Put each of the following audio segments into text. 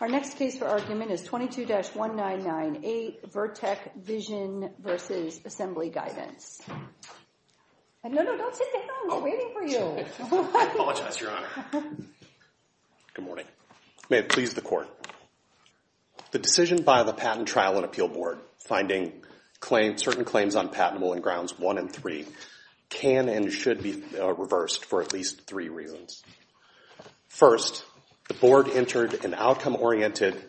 Our next case for argument is 22-1998 Vertek Vision v. Assembly Guidance. No, no, don't sit down. We're waiting for you. I apologize, Your Honor. Good morning. May it please the Court. The decision by the Patent Trial and Appeal Board finding certain claims unpatentable in Grounds 1 and 3 can and should be reversed for at least three reasons. First, the Board entered an outcome-oriented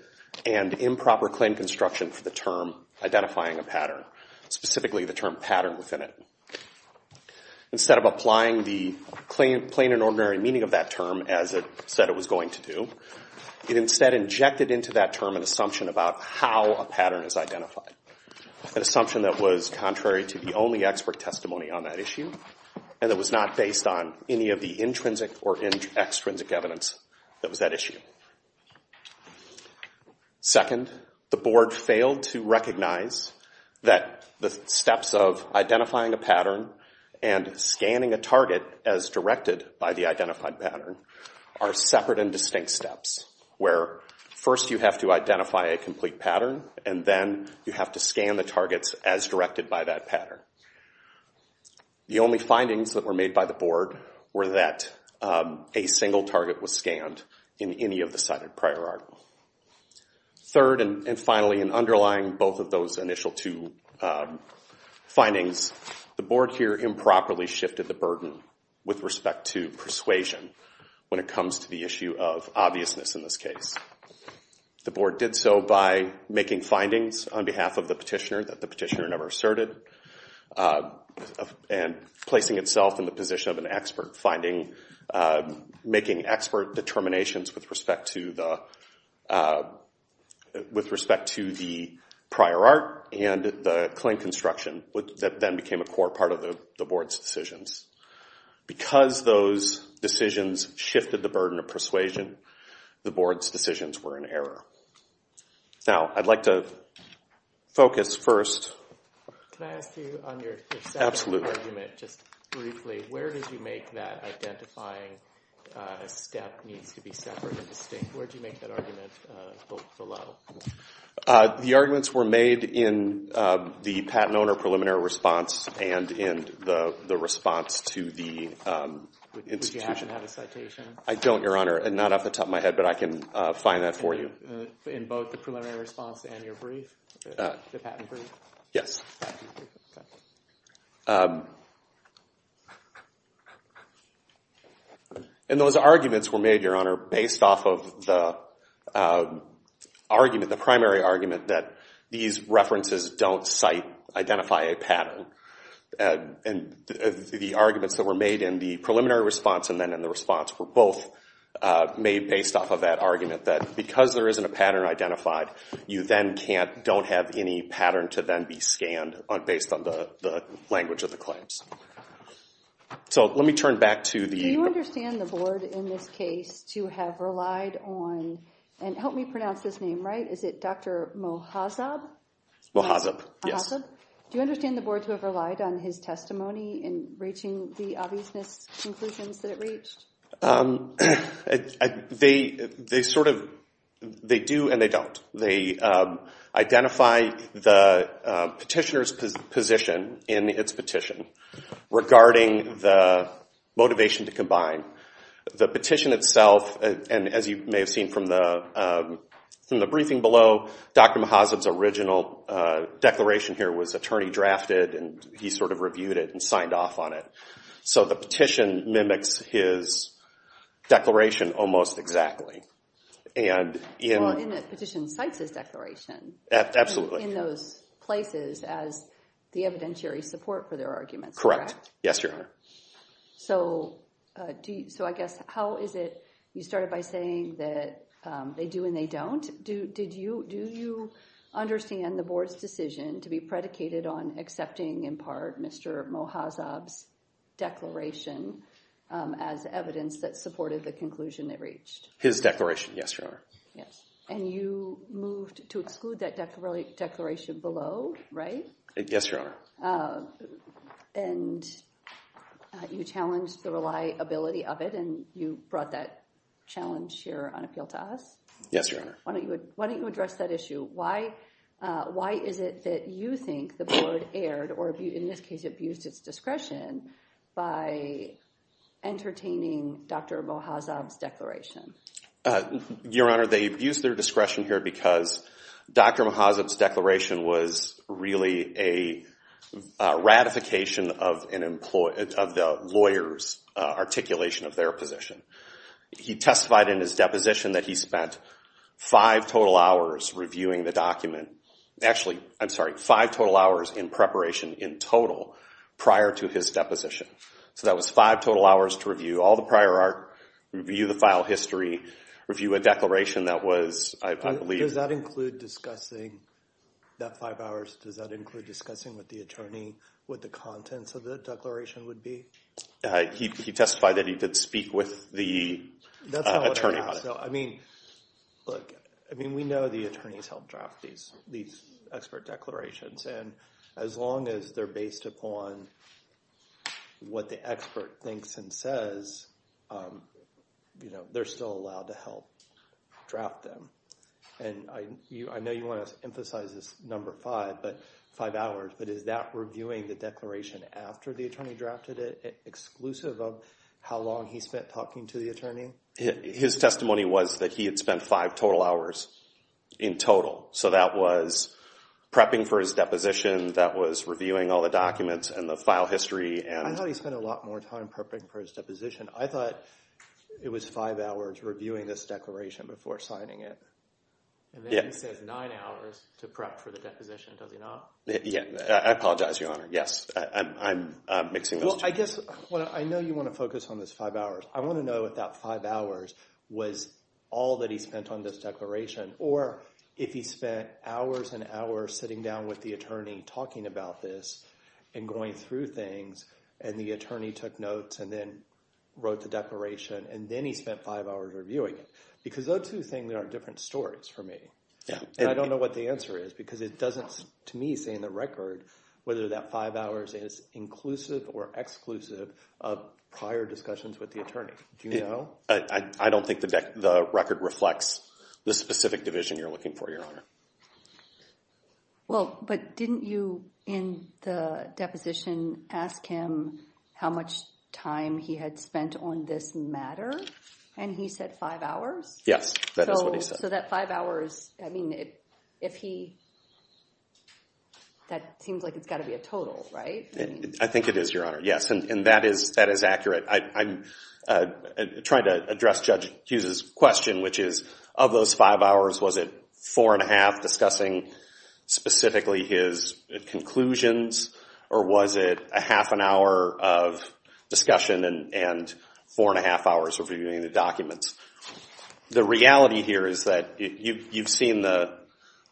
and improper claim construction for the term identifying a pattern, specifically the term pattern within it. Instead of applying the plain and ordinary meaning of that term as it said it was going to do, it instead injected into that term an assumption about how a pattern is identified, an assumption that was contrary to the only expert testimony on that issue and that was not based on any of the intrinsic or that was that issue. Second, the Board failed to recognize that the steps of identifying a pattern and scanning a target as directed by the identified pattern are separate and distinct steps, where first you have to identify a complete pattern and then you have to scan the targets as directed by that pattern. The only findings that were made by the Board were that a single target was scanned in any of the cited prior argument. Third and finally, in underlying both of those initial two findings, the Board here improperly shifted the burden with respect to persuasion when it comes to the issue of obviousness in this case. The Board did so by making findings on behalf of the petitioner that the petitioner never asserted and placing itself in the position of an expert finding, making expert determinations with respect to the prior art and the claim construction that then became a core part of the Board's decisions. Because those decisions shifted the burden of persuasion, the Board's decisions were in error. Now I'd like to Can I ask you on your second argument, just briefly, where did you make that identifying a step needs to be separate and distinct? Where did you make that argument below? The arguments were made in the patent owner preliminary response and in the response to the institution. Would you happen to have a citation? I don't, Your Honor, not off the top of my head, but I can find that for you. In both the preliminary response and your brief, the patent brief? Yes. And those arguments were made, Your Honor, based off of the argument, the primary argument that these references don't cite, identify a pattern. And the arguments that were made in the preliminary response and then in the response were both made based off of that argument that because there isn't a pattern identified, you then can't, don't have any pattern to then be scanned based on the language of the claims. So let me turn back to the... Do you understand the Board in this case to have relied on, and help me pronounce this name right, is it Dr. Mohazab? Mohazab, yes. Do you understand the Board to have relied on his testimony in reaching the obviousness conclusions that it reached? They sort of, they do and they don't. They identify the petitioner's position in its petition regarding the motivation to combine. The petition itself, and as you may have seen from the and he sort of reviewed it and signed off on it. So the petition mimics his declaration almost exactly. And in... Well, and the petition cites his declaration. Absolutely. In those places as the evidentiary support for their arguments, correct? Correct. Yes, Your Honor. So I guess, how is it, you started by saying that they do and they don't. Do you understand the Board's decision to be predicated on accepting, in part, Mr. Mohazab's declaration as evidence that supported the conclusion they reached? His declaration, yes, Your Honor. Yes, and you moved to exclude that declaration below, right? Yes, Your Honor. And you challenged the reliability of it and you brought that challenge here on appeal to us? Yes, Your Honor. Why don't you address that issue? Why is it that you think the Board erred or, in this case, abused its discretion by entertaining Dr. Mohazab's declaration? Your Honor, they abused their discretion here because Dr. Mohazab's declaration was really a ratification of the lawyer's articulation of their position. He testified in his deposition that he spent five total hours reviewing the document. Actually, I'm sorry, five total hours in preparation in total prior to his deposition. So that was five total hours to review all the prior art, review the file history, review a declaration that was, I believe... Does that include discussing that five hours? Does that include discussing with the attorney what the contents of the declaration would be? He testified that he did speak with the attorney about it. That's not what I asked. I mean, look, I mean, we know the attorneys help draft these expert declarations, and as long as they're based upon what the expert thinks and says, you know, they're still allowed to help draft them. And I know you want to emphasize this number five, but five hours, but is that reviewing the declaration after the attorney drafted it how long he spent talking to the attorney? His testimony was that he had spent five total hours in total. So that was prepping for his deposition. That was reviewing all the documents and the file history. I thought he spent a lot more time prepping for his deposition. I thought it was five hours reviewing this declaration before signing it. And then he says nine hours to prep for the deposition, does he not? Yeah, I apologize, Your Honor. Yes, I'm mixing those two. Well, I guess, I know you want to focus on this five hours. I want to know if that five hours was all that he spent on this declaration, or if he spent hours and hours sitting down with the attorney talking about this and going through things, and the attorney took notes and then wrote the declaration, and then he spent five hours reviewing it. Because those two things are different stories for me. And I don't know what the answer is, because it doesn't, to me, say in the record, whether that five hours is inclusive or exclusive of prior discussions with the attorney. Do you know? I don't think the record reflects the specific division you're looking for, Your Honor. Well, but didn't you, in the deposition, ask him how much time he had spent on this matter? And he said five hours? Yes, that is what he said. That five hours, that seems like it's got to be a total, right? I think it is, Your Honor. Yes, and that is accurate. I'm trying to address Judge Hughes's question, which is, of those five hours, was it four and a half discussing, specifically, his conclusions? Or was it a half an hour of discussion and four and a half hours reviewing the documents? The reality here is that you've seen the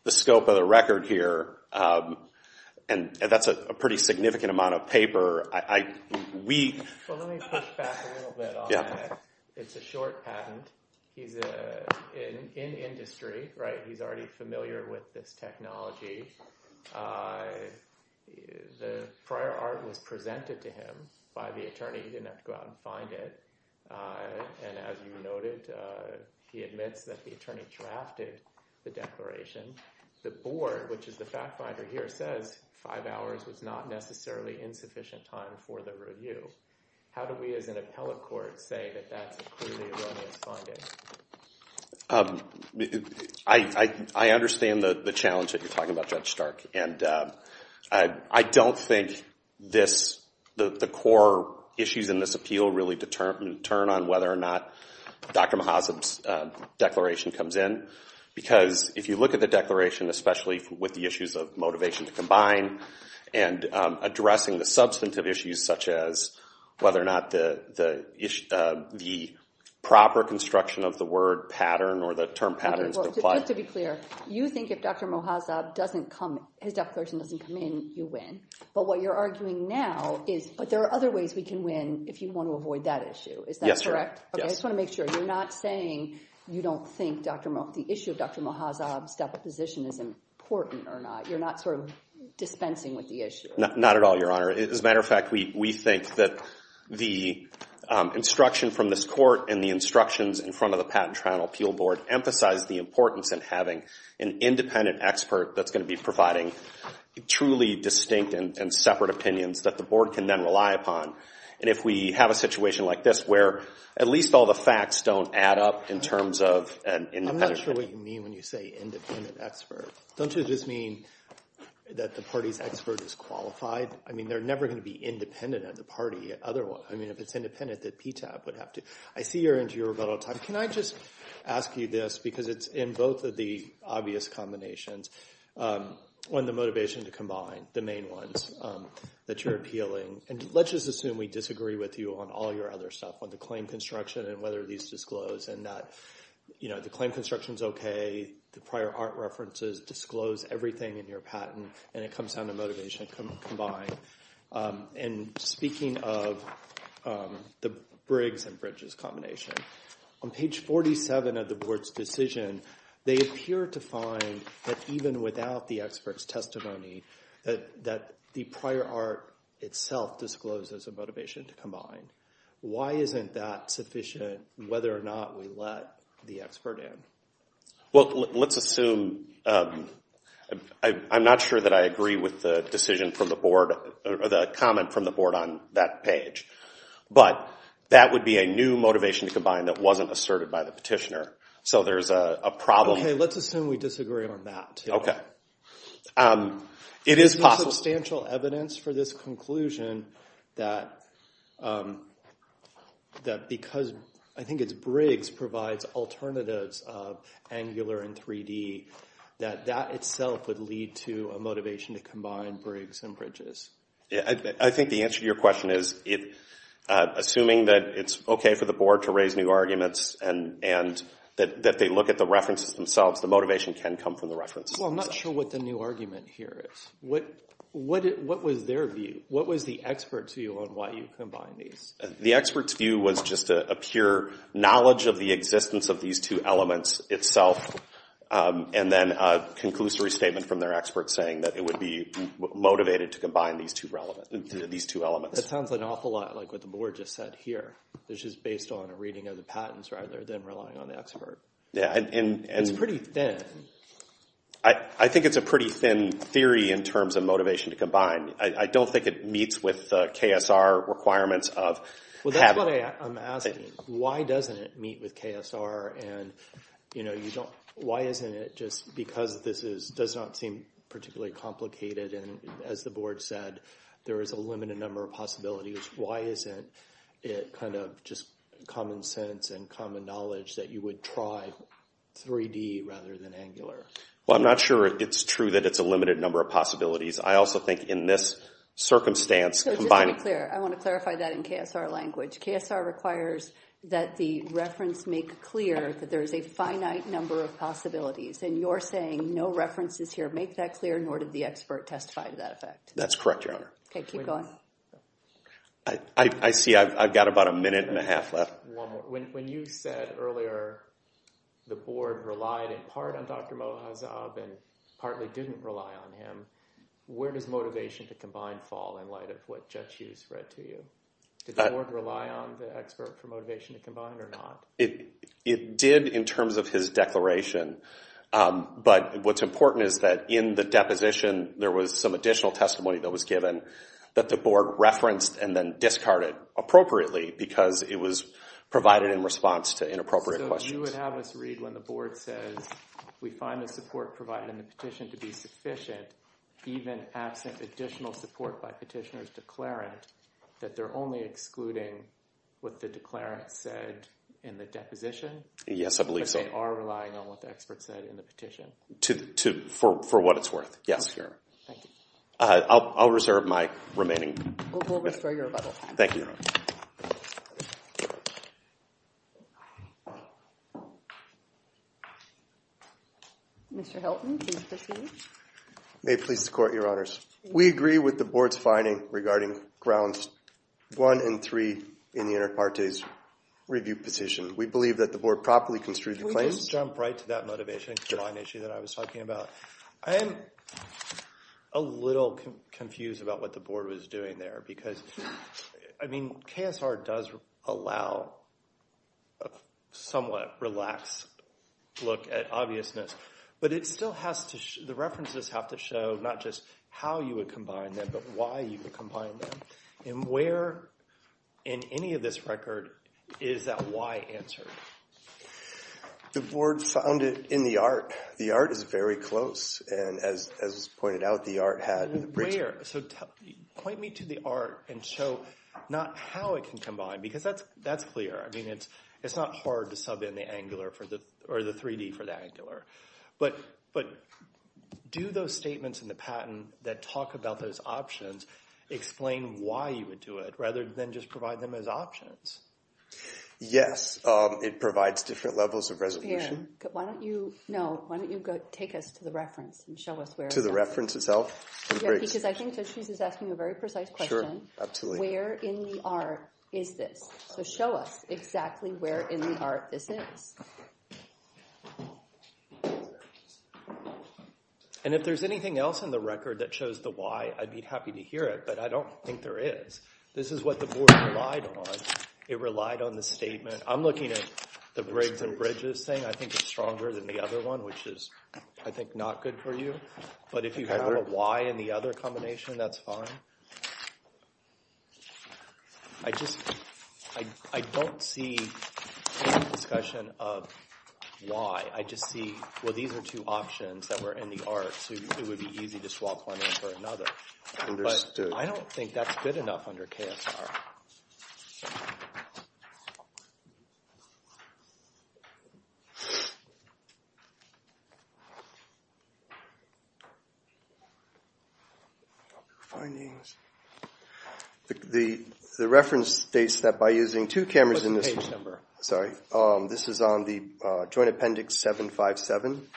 scope of the record here, and that's a pretty significant amount of paper. Well, let me push back a little bit on that. It's a short patent. He's in industry, right? He's already familiar with this technology. The prior art was presented to him by the attorney. He didn't have to go out and find it. And as you noted, he admits that the attorney drafted the declaration. The board, which is the fact finder here, says five hours was not necessarily insufficient time for the review. How do we, as an appellate court, say that that's a clearly erroneous finding? I understand the challenge that you're talking about, Judge Stark. And I don't think that the core issues in this appeal really determine whether or not Dr. Mohazab's declaration comes in. Because if you look at the declaration, especially with the issues of motivation to combine, and addressing the substantive issues, such as whether or not the proper construction of the word pattern or the term patterns apply. To be clear, you think if Dr. Mohazab doesn't come, his declaration doesn't come in, you win. But what you're arguing now is, but there are other ways we can win if you want to avoid that issue. Is that correct? Yes, Your Honor. Okay, I just want to make sure you're not saying you don't think the issue of Dr. Mohazab's deposition is important or not. You're not sort of dispensing with the issue. Not at all, Your Honor. As a matter of fact, we think that the instruction from this court and the instructions in front of the Patent Triennial Appeal Board emphasize the importance in having an independent expert that's going to be providing truly distinct and separate opinions that the board can then rely upon. And if we have a situation like this, where at least all the facts don't add up in terms of an independent... I'm not sure what you mean when you say independent expert. Don't you just mean that the party's expert is qualified? I mean, they're never going to be independent of the party. I mean, if it's independent, the PTAP would have to... I see you're into your rebuttal time. Can I just ask you this? Because it's in both of the obvious combinations, on the motivation to combine, the main ones that you're appealing. And let's just assume we disagree with you on all your other stuff, on the claim construction and whether these disclose and that, you know, the claim construction is okay, the prior art references disclose everything in your patent, and it comes down to motivation combined. And speaking of the Briggs and Bridges combination, on page 47 of the board's decision, they appear to find that even without the expert's testimony, that the prior art itself discloses a motivation to combine. Why isn't that sufficient, whether or not we let the expert in? Well, let's assume... I'm not sure that I agree with the decision from the board or the comment from the board on that page. But that would be a new motivation to combine that wasn't asserted by the petitioner. So there's a problem... Okay, let's assume we disagree on that, too. Okay. It is possible... There's been substantial evidence for this conclusion that because I think it's Briggs provides alternatives of Angular and 3D, that that itself would lead to a motivation to combine Briggs and Bridges. I think the answer to your question is, assuming that it's okay for the board to raise new arguments and that they look at the references themselves, the motivation can come from the references. Well, I'm not sure what the new argument here is. What was their view? What was the expert's view on why you combined these? The expert's view was just a pure knowledge of the existence of these two elements itself, and then a conclusory statement from their expert saying that it would be motivated to combine these two elements. That sounds like an awful lot like what the board just said here, which is based on a reading of the patents rather than relying on the expert. It's pretty thin. I think it's a pretty thin theory in terms of motivation to combine. I don't think it meets with the KSR requirements of... Well, that's what I'm asking. Why doesn't it meet with KSR? And why isn't it just because this does not seem particularly complicated? And as the board said, there is a limited number of possibilities. Why isn't it kind of just common sense and common knowledge that you would try 3D rather than angular? Well, I'm not sure it's true that it's a limited number of possibilities. I also think in this circumstance, combining... So just to be clear, I want to clarify that in KSR language. KSR requires that the reference make clear that there is a finite number of possibilities. And you're saying no references here make that clear, nor did the expert testify to that effect? That's correct, Your Honor. Okay, keep going. I see I've got about a minute and a half left. One more. When you said earlier the board relied in part on Dr. Mohazab and partly didn't rely on him, where does motivation to combine fall in light of what Judge Hughes read to you? Did the board rely on the expert for motivation to combine or not? It did in terms of his declaration, but what's important is that in the deposition, there was some additional testimony that was given that the board referenced and then discarded appropriately because it was provided in response to inappropriate questions. So you would have us read when the board says, we find the support provided in the petition to be sufficient, even absent additional support by petitioner's declarant, that they're only excluding what the declarant said in the deposition? Yes, I believe so. But they are relying on what the expert said in the petition? For what it's worth, yes, Your Honor. Thank you. I'll reserve my remaining... We'll restore your rebuttal. Thank you, Your Honor. Mr. Hilton, please proceed. May it please the court, Your Honors. We agree with the board's finding regarding grounds one and three in the inter partes review position. We believe that the board properly construed the claims... Can we just jump right to that motivation to combine issue that I was talking about? I am a little confused about what the board was doing there because, I mean, KSR does allow a somewhat relaxed look at obviousness, but it still has to... the references have to show not just how you would combine them, but why you would combine them. And where in any of this record is that why answered? The board found it in the art. The art is very close. And as was pointed out, the art had... Where? So point me to the art and show not how it can combine because that's clear. I mean, it's not hard to sub in the angular for the... or the 3D for the angular. But do those statements in the patent that talk about those options explain why you would do it rather than just provide them as options? Yes, it provides different levels of resolution. Why don't you... no, why don't you go take us to the reference and show us where... To the reference itself? Because I think that she's asking a very precise question. Sure, absolutely. Where in the art is this? So show us exactly where in the art this is. And if there's anything else in the record that shows the why, I'd be happy to hear it, but I don't think there is. This is what the board relied on. It relied on the statement. I'm looking at the brigs and bridges thing. I think it's stronger than the other one, which is, I think, not good for you. But if you have a why in the other combination, that's fine. I just, I don't see a discussion of why. I just see, well, these are two options that were in the art, so it would be easy to swap one out for another. Understood. But I don't think that's good enough under KSR. So, findings. The reference states that by using two cameras in this... What's the page number? Sorry. This is on the Joint Appendix 757.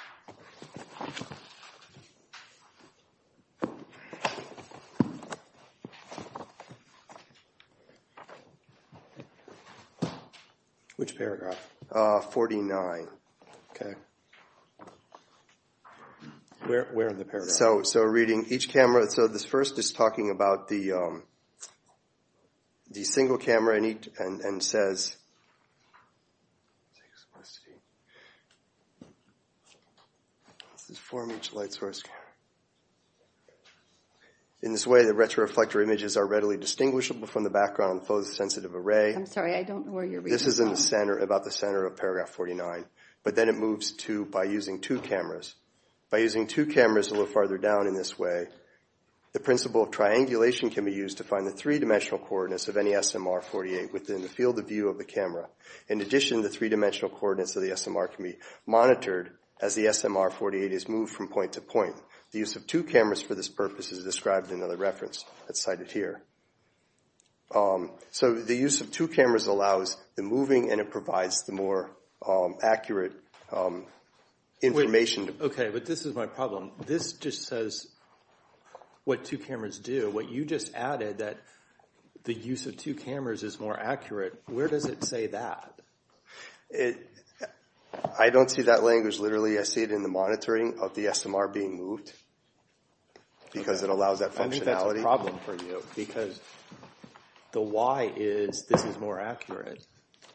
Which paragraph? 49. Okay. Where in the paragraph? So reading each camera. So this first is talking about the single camera and says... This is four-inch light source camera. In this way, the retroreflector images are readily distinguishable from the background. Both sensitive array. I'm sorry. I don't know where you're reading from. This is in the center, about the center of paragraph 49. But then it moves to, by using two cameras. By using two cameras a little farther down in this way, the principle of triangulation can be used to find the three-dimensional coordinates of any SMR-48 within the field of view of the camera. In addition, the three-dimensional coordinates of the SMR can be monitored as the SMR-48 is moved from point to point. The use of two cameras for this purpose is described in another reference that's cited here. So the use of two cameras allows the moving and it provides the more accurate information. Okay. But this is my problem. This just says what two cameras do. What you just added that the use of two cameras is more accurate. Where does it say that? I don't see that language. Literally, I see it in the monitoring of the SMR being moved. Because it allows that functionality. That's a problem for you. Because the why is this is more accurate.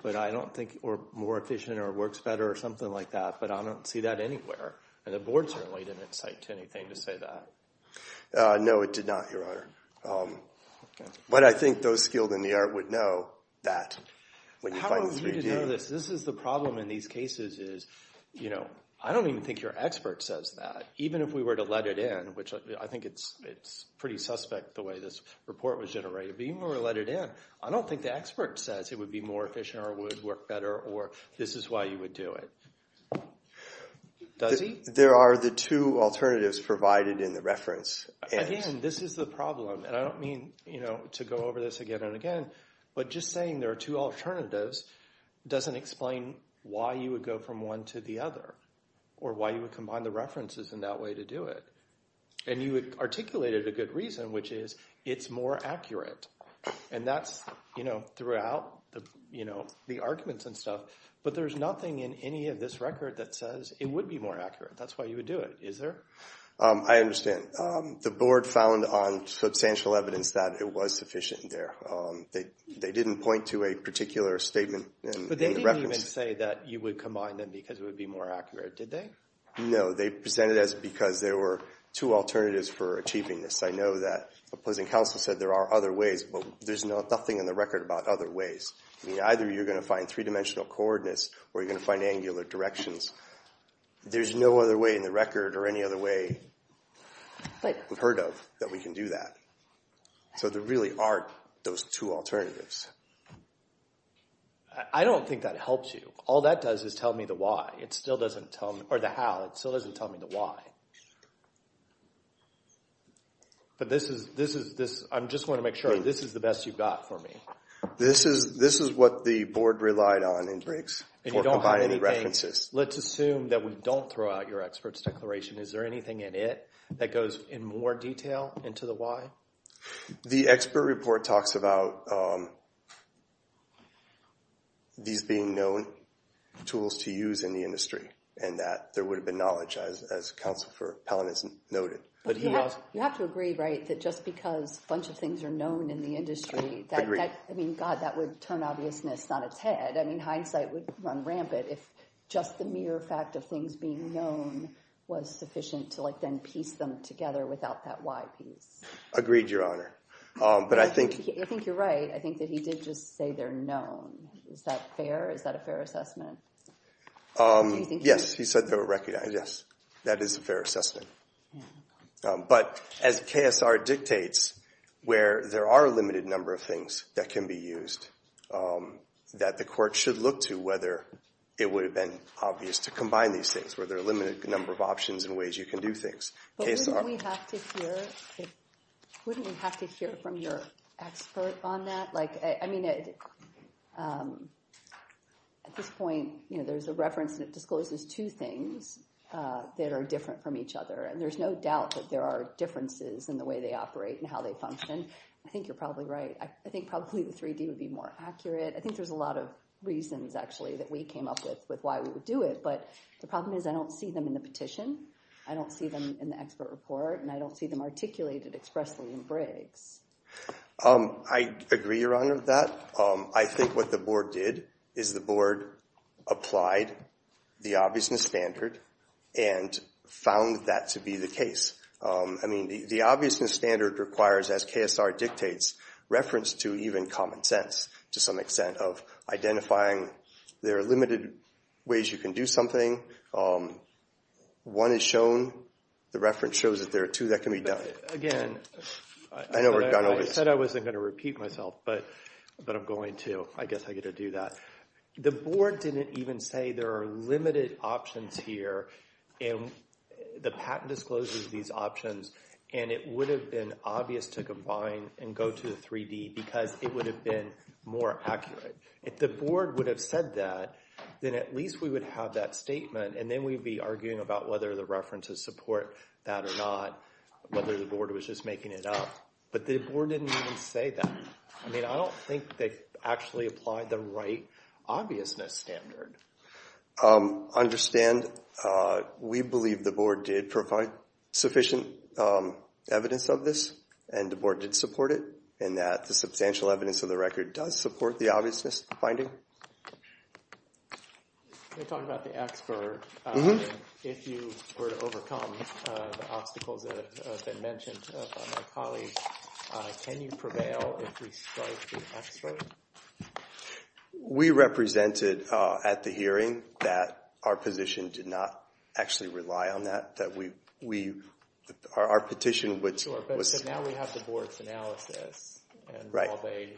But I don't think, or more efficient, or works better, or something like that. But I don't see that anywhere. And the board certainly didn't cite anything to say that. No, it did not, your honor. But I think those skilled in the art would know that when you find the 3D. How are we to know this? This is the problem in these cases is, you know, I don't even think your expert says that. Even if we were to let it in, which I think it's pretty suspect the way this report was generated. But even if we were to let it in, I don't think the expert says it would be more efficient, or would work better, or this is why you would do it. Does he? There are the two alternatives provided in the reference. Again, this is the problem. And I don't mean, you know, to go over this again and again. But just saying there are two alternatives doesn't explain why you would go from one to the other. Or why you would combine the references in that way to do it. And you articulated a good reason, which is it's more accurate. And that's, you know, throughout the, you know, the arguments and stuff. But there's nothing in any of this record that says it would be more accurate. That's why you would do it, is there? I understand. The board found on substantial evidence that it was sufficient there. They didn't point to a particular statement. But they didn't even say that you would combine them because it would be more accurate, did they? No, they presented as because there were two alternatives for achieving this. I know that opposing counsel said there are other ways. But there's nothing in the record about other ways. I mean, either you're going to find three-dimensional coordinates, or you're going to find angular directions. There's no other way in the record or any other way we've heard of that we can do that. So there really aren't those two alternatives. I don't think that helps you. All that does is tell me the why. It still doesn't tell me, or the how. It still doesn't tell me the why. But this is, this is, this, I'm just going to make sure this is the best you've got for me. This is, this is what the board relied on in Briggs for combining the references. And you don't have anything, let's assume that we don't throw out your expert's declaration. Is there anything in it that goes in more detail into the why? The expert report talks about these being known tools to use in the industry. And that there would have been knowledge, as counsel for Palin has noted. But you have to agree, right, that just because a bunch of things are known in the industry, that, I mean, God, that would turn obviousness on its head. I mean, hindsight would run rampant if just the mere fact of things being known was sufficient to, like, then piece them together without that why piece. Agreed, Your Honor. But I think. I think you're right. I think that he did just say they're known. Is that fair? Is that a fair assessment? Yes, he said they were recognized. Yes, that is a fair assessment. But as KSR dictates, where there are a limited number of things that can be used, that the court should look to whether it would have been obvious to combine these things, where there are a limited number of options and ways you can do things. But wouldn't we have to hear from your expert on that? Like, I mean, at this point, there's a reference that discloses two things that are different from each other. And there's no doubt that there are differences in the way they operate and how they function. I think you're probably right. I think probably the 3D would be more accurate. I think there's a lot of reasons, actually, that we came up with why we would do it. But the problem is, I don't see them in the petition. I don't see them in the expert report. And I don't see them articulated expressly in Briggs. I agree, Your Honor, with that. I think what the board did is the board applied the obviousness standard and found that to be the case. I mean, the obviousness standard requires, as KSR dictates, reference to even common sense, to some extent, of identifying there are limited ways you can do something, and one is shown, the reference shows that there are two that can be done. Again, I said I wasn't going to repeat myself, but I'm going to. I guess I get to do that. The board didn't even say there are limited options here. And the patent discloses these options. And it would have been obvious to combine and go to the 3D because it would have been more accurate. If the board would have said that, then at least we would have that statement, and then we'd be arguing about whether the references support that or not, whether the board was just making it up. But the board didn't even say that. I mean, I don't think they actually applied the right obviousness standard. Understand, we believe the board did provide sufficient evidence of this, and the board did support it, and that the substantial evidence of the record does support the obviousness finding. We're talking about the expert. If you were to overcome the obstacles that have been mentioned by my colleagues, can you prevail if we strike the expert? We represented at the hearing that our position did not actually rely on that, that we, our petition would... Now we have the board's analysis, and while they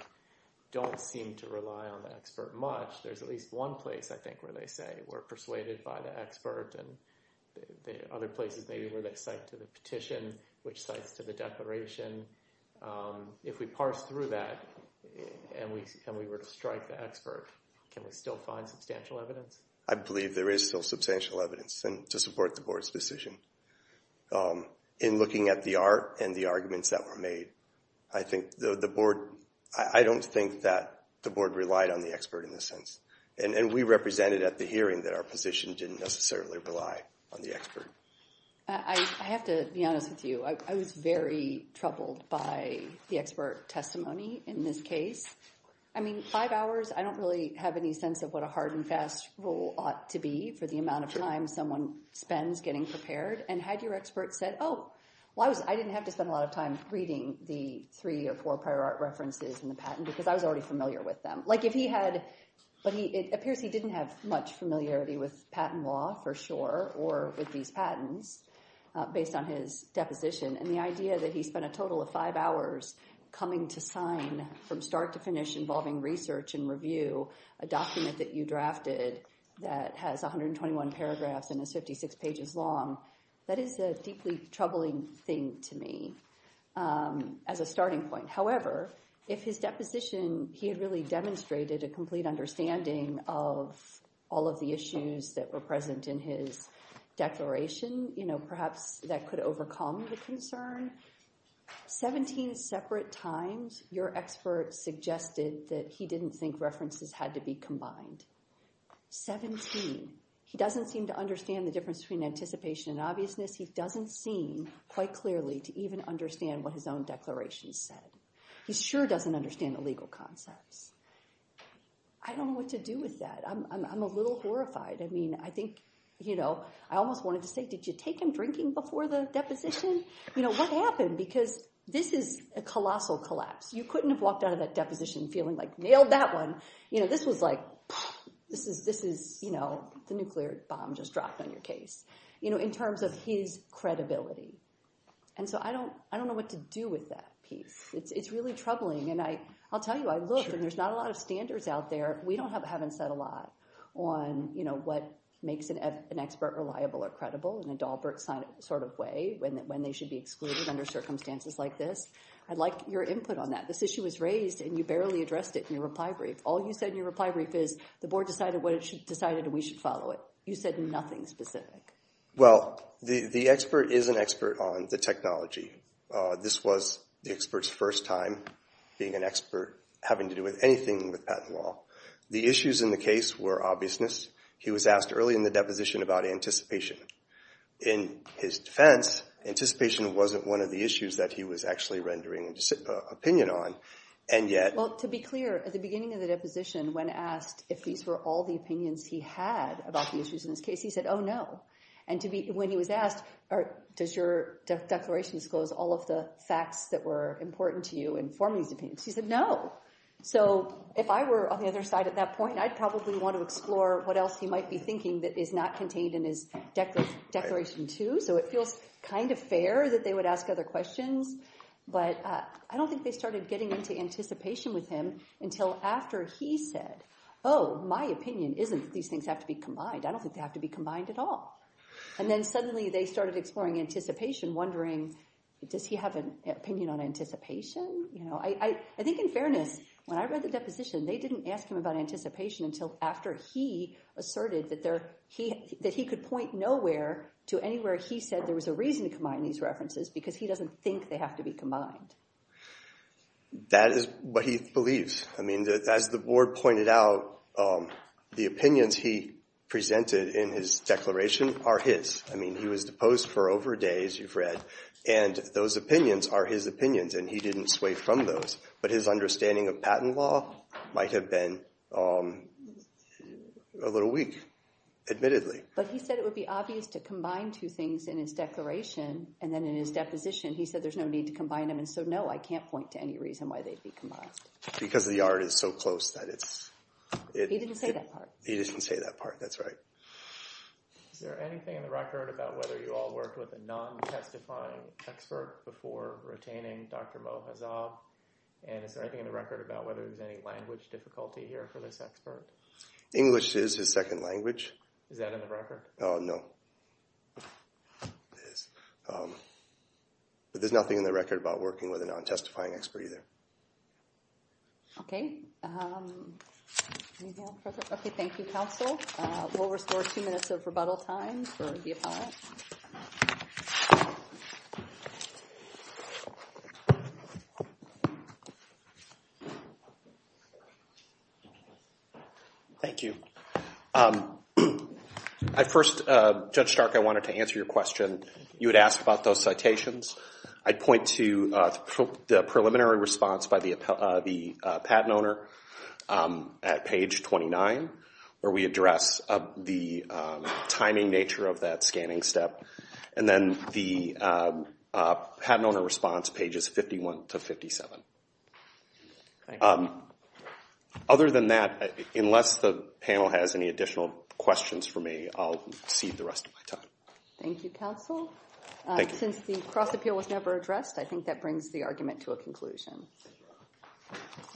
don't seem to rely on the expert much, there's at least one place, I think, where they say we're persuaded by the expert, and other places maybe where they cite to the petition, which cites to the declaration. If we parse through that and we were to strike the expert, can we still find substantial evidence? I believe there is still substantial evidence to support the board's decision. In looking at the art and the arguments that were made, I think the board... I don't think that the board relied on the expert in this sense, and we represented at the hearing that our position didn't necessarily rely on the expert. I have to be honest with you. I was very troubled by the expert testimony in this case. I mean, five hours, I don't really have any sense of what a hard and fast rule ought to be for the amount of time someone spends getting prepared, and had your expert said, oh, well, I didn't have to spend a lot of time reading the three or four prior art references in the patent because I was already familiar with them. Like if he had... But it appears he didn't have much familiarity with patent law for sure, or with these patents based on his deposition, and the idea that he spent a total of five hours coming to sign from start to finish involving research and review a document that you drafted that has 121 paragraphs and is 56 pages long. That is a deeply troubling thing to me as a starting point. However, if his deposition, he had really demonstrated a complete understanding of all of the issues that were present in his declaration, you know, perhaps that could overcome the concern. 17 separate times your expert suggested that he didn't think references had to be combined. 17. He doesn't seem to understand the difference between anticipation and obviousness. He doesn't seem quite clearly to even understand what his own declaration said. He sure doesn't understand the legal concepts. I don't know what to do with that. I'm a little horrified. I mean, I think, you know, I almost wanted to say, did you take him drinking before the deposition? You know, what happened? Because this is a colossal collapse. You couldn't have walked out of that deposition feeling like nailed that one. You know, this was like, this is, you know, the nuclear bomb just dropped on your case, you know, in terms of his credibility. And so I don't, I don't know what to do with that piece. It's really troubling. And I'll tell you, I look and there's not a lot of standards out there. We don't have, haven't said a lot on, you know, what makes an expert reliable or credible in a Dahlberg sort of way when they should be excluded under circumstances like this. I'd like your input on that. This issue was raised and you barely addressed it in your reply brief. All you said in your reply brief is the board decided what it should, decided we should follow it. You said nothing specific. Well, the expert is an expert on the technology. This was the expert's first time being an expert having to do with anything with patent law. The issues in the case were obviousness. He was asked early in the deposition about anticipation. In his defense, anticipation wasn't one of the issues that he was actually rendering opinion on. And yet... Well, to be clear, at the beginning of the deposition, when asked if these were all the opinions he had about the issues in this case, he said, oh, no. And to be, when he was asked, does your declaration disclose all of the facts that were important to you in forming these opinions? He said, no. So if I were on the other side at that point, I'd probably want to explore what else he might be thinking that is not contained in his declaration, too. So it feels kind of fair that they would ask other questions. But I don't think they started getting into anticipation with him until after he said, oh, my opinion isn't that these things have to be combined. I don't think they have to be combined at all. And then suddenly they started exploring anticipation, wondering, does he have an opinion on anticipation? You know, I think in fairness, when I read the deposition, they didn't ask him about anticipation until after he asserted that he could point nowhere to anywhere he said there was a reason to combine these references because he doesn't think they have to be combined. That is what he believes. I mean, as the board pointed out, the opinions he presented in his declaration are his. I mean, he was deposed for over a day, as you've read. And those opinions are his opinions. And he didn't sway from those. But his understanding of patent law might have been a little weak, admittedly. But he said it would be obvious to combine two things in his declaration. And then in his deposition, he said there's no need to combine them. And so, no, I can't point to any reason why they'd be combined. Because the art is so close that it's... He didn't say that part. He didn't say that part. That's right. Is there anything in the record about whether you all worked with a non-testifying expert before retaining Dr. Mohazab? And is there anything in the record about whether there's any language difficulty here for this expert? English is his second language. Is that in the record? Oh, no. But there's nothing in the record about working with a non-testifying expert either. Okay. Okay, thank you, counsel. We'll restore two minutes of rebuttal time for the appellant. Thank you. Judge Stark, I wanted to answer your question. You had asked about those citations. I'd point to the preliminary response by the patent owner at page 29, where we address the timing nature of that scanning step. And then the patent owner response pages 51 to 57. Other than that, unless the panel has any additional questions for me, I'll cede the rest of my time. Thank you, counsel. Since the cross-appeal was never addressed, I think that brings the argument to a conclusion.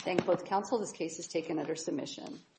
Thank both counsel. This case is taken under submission.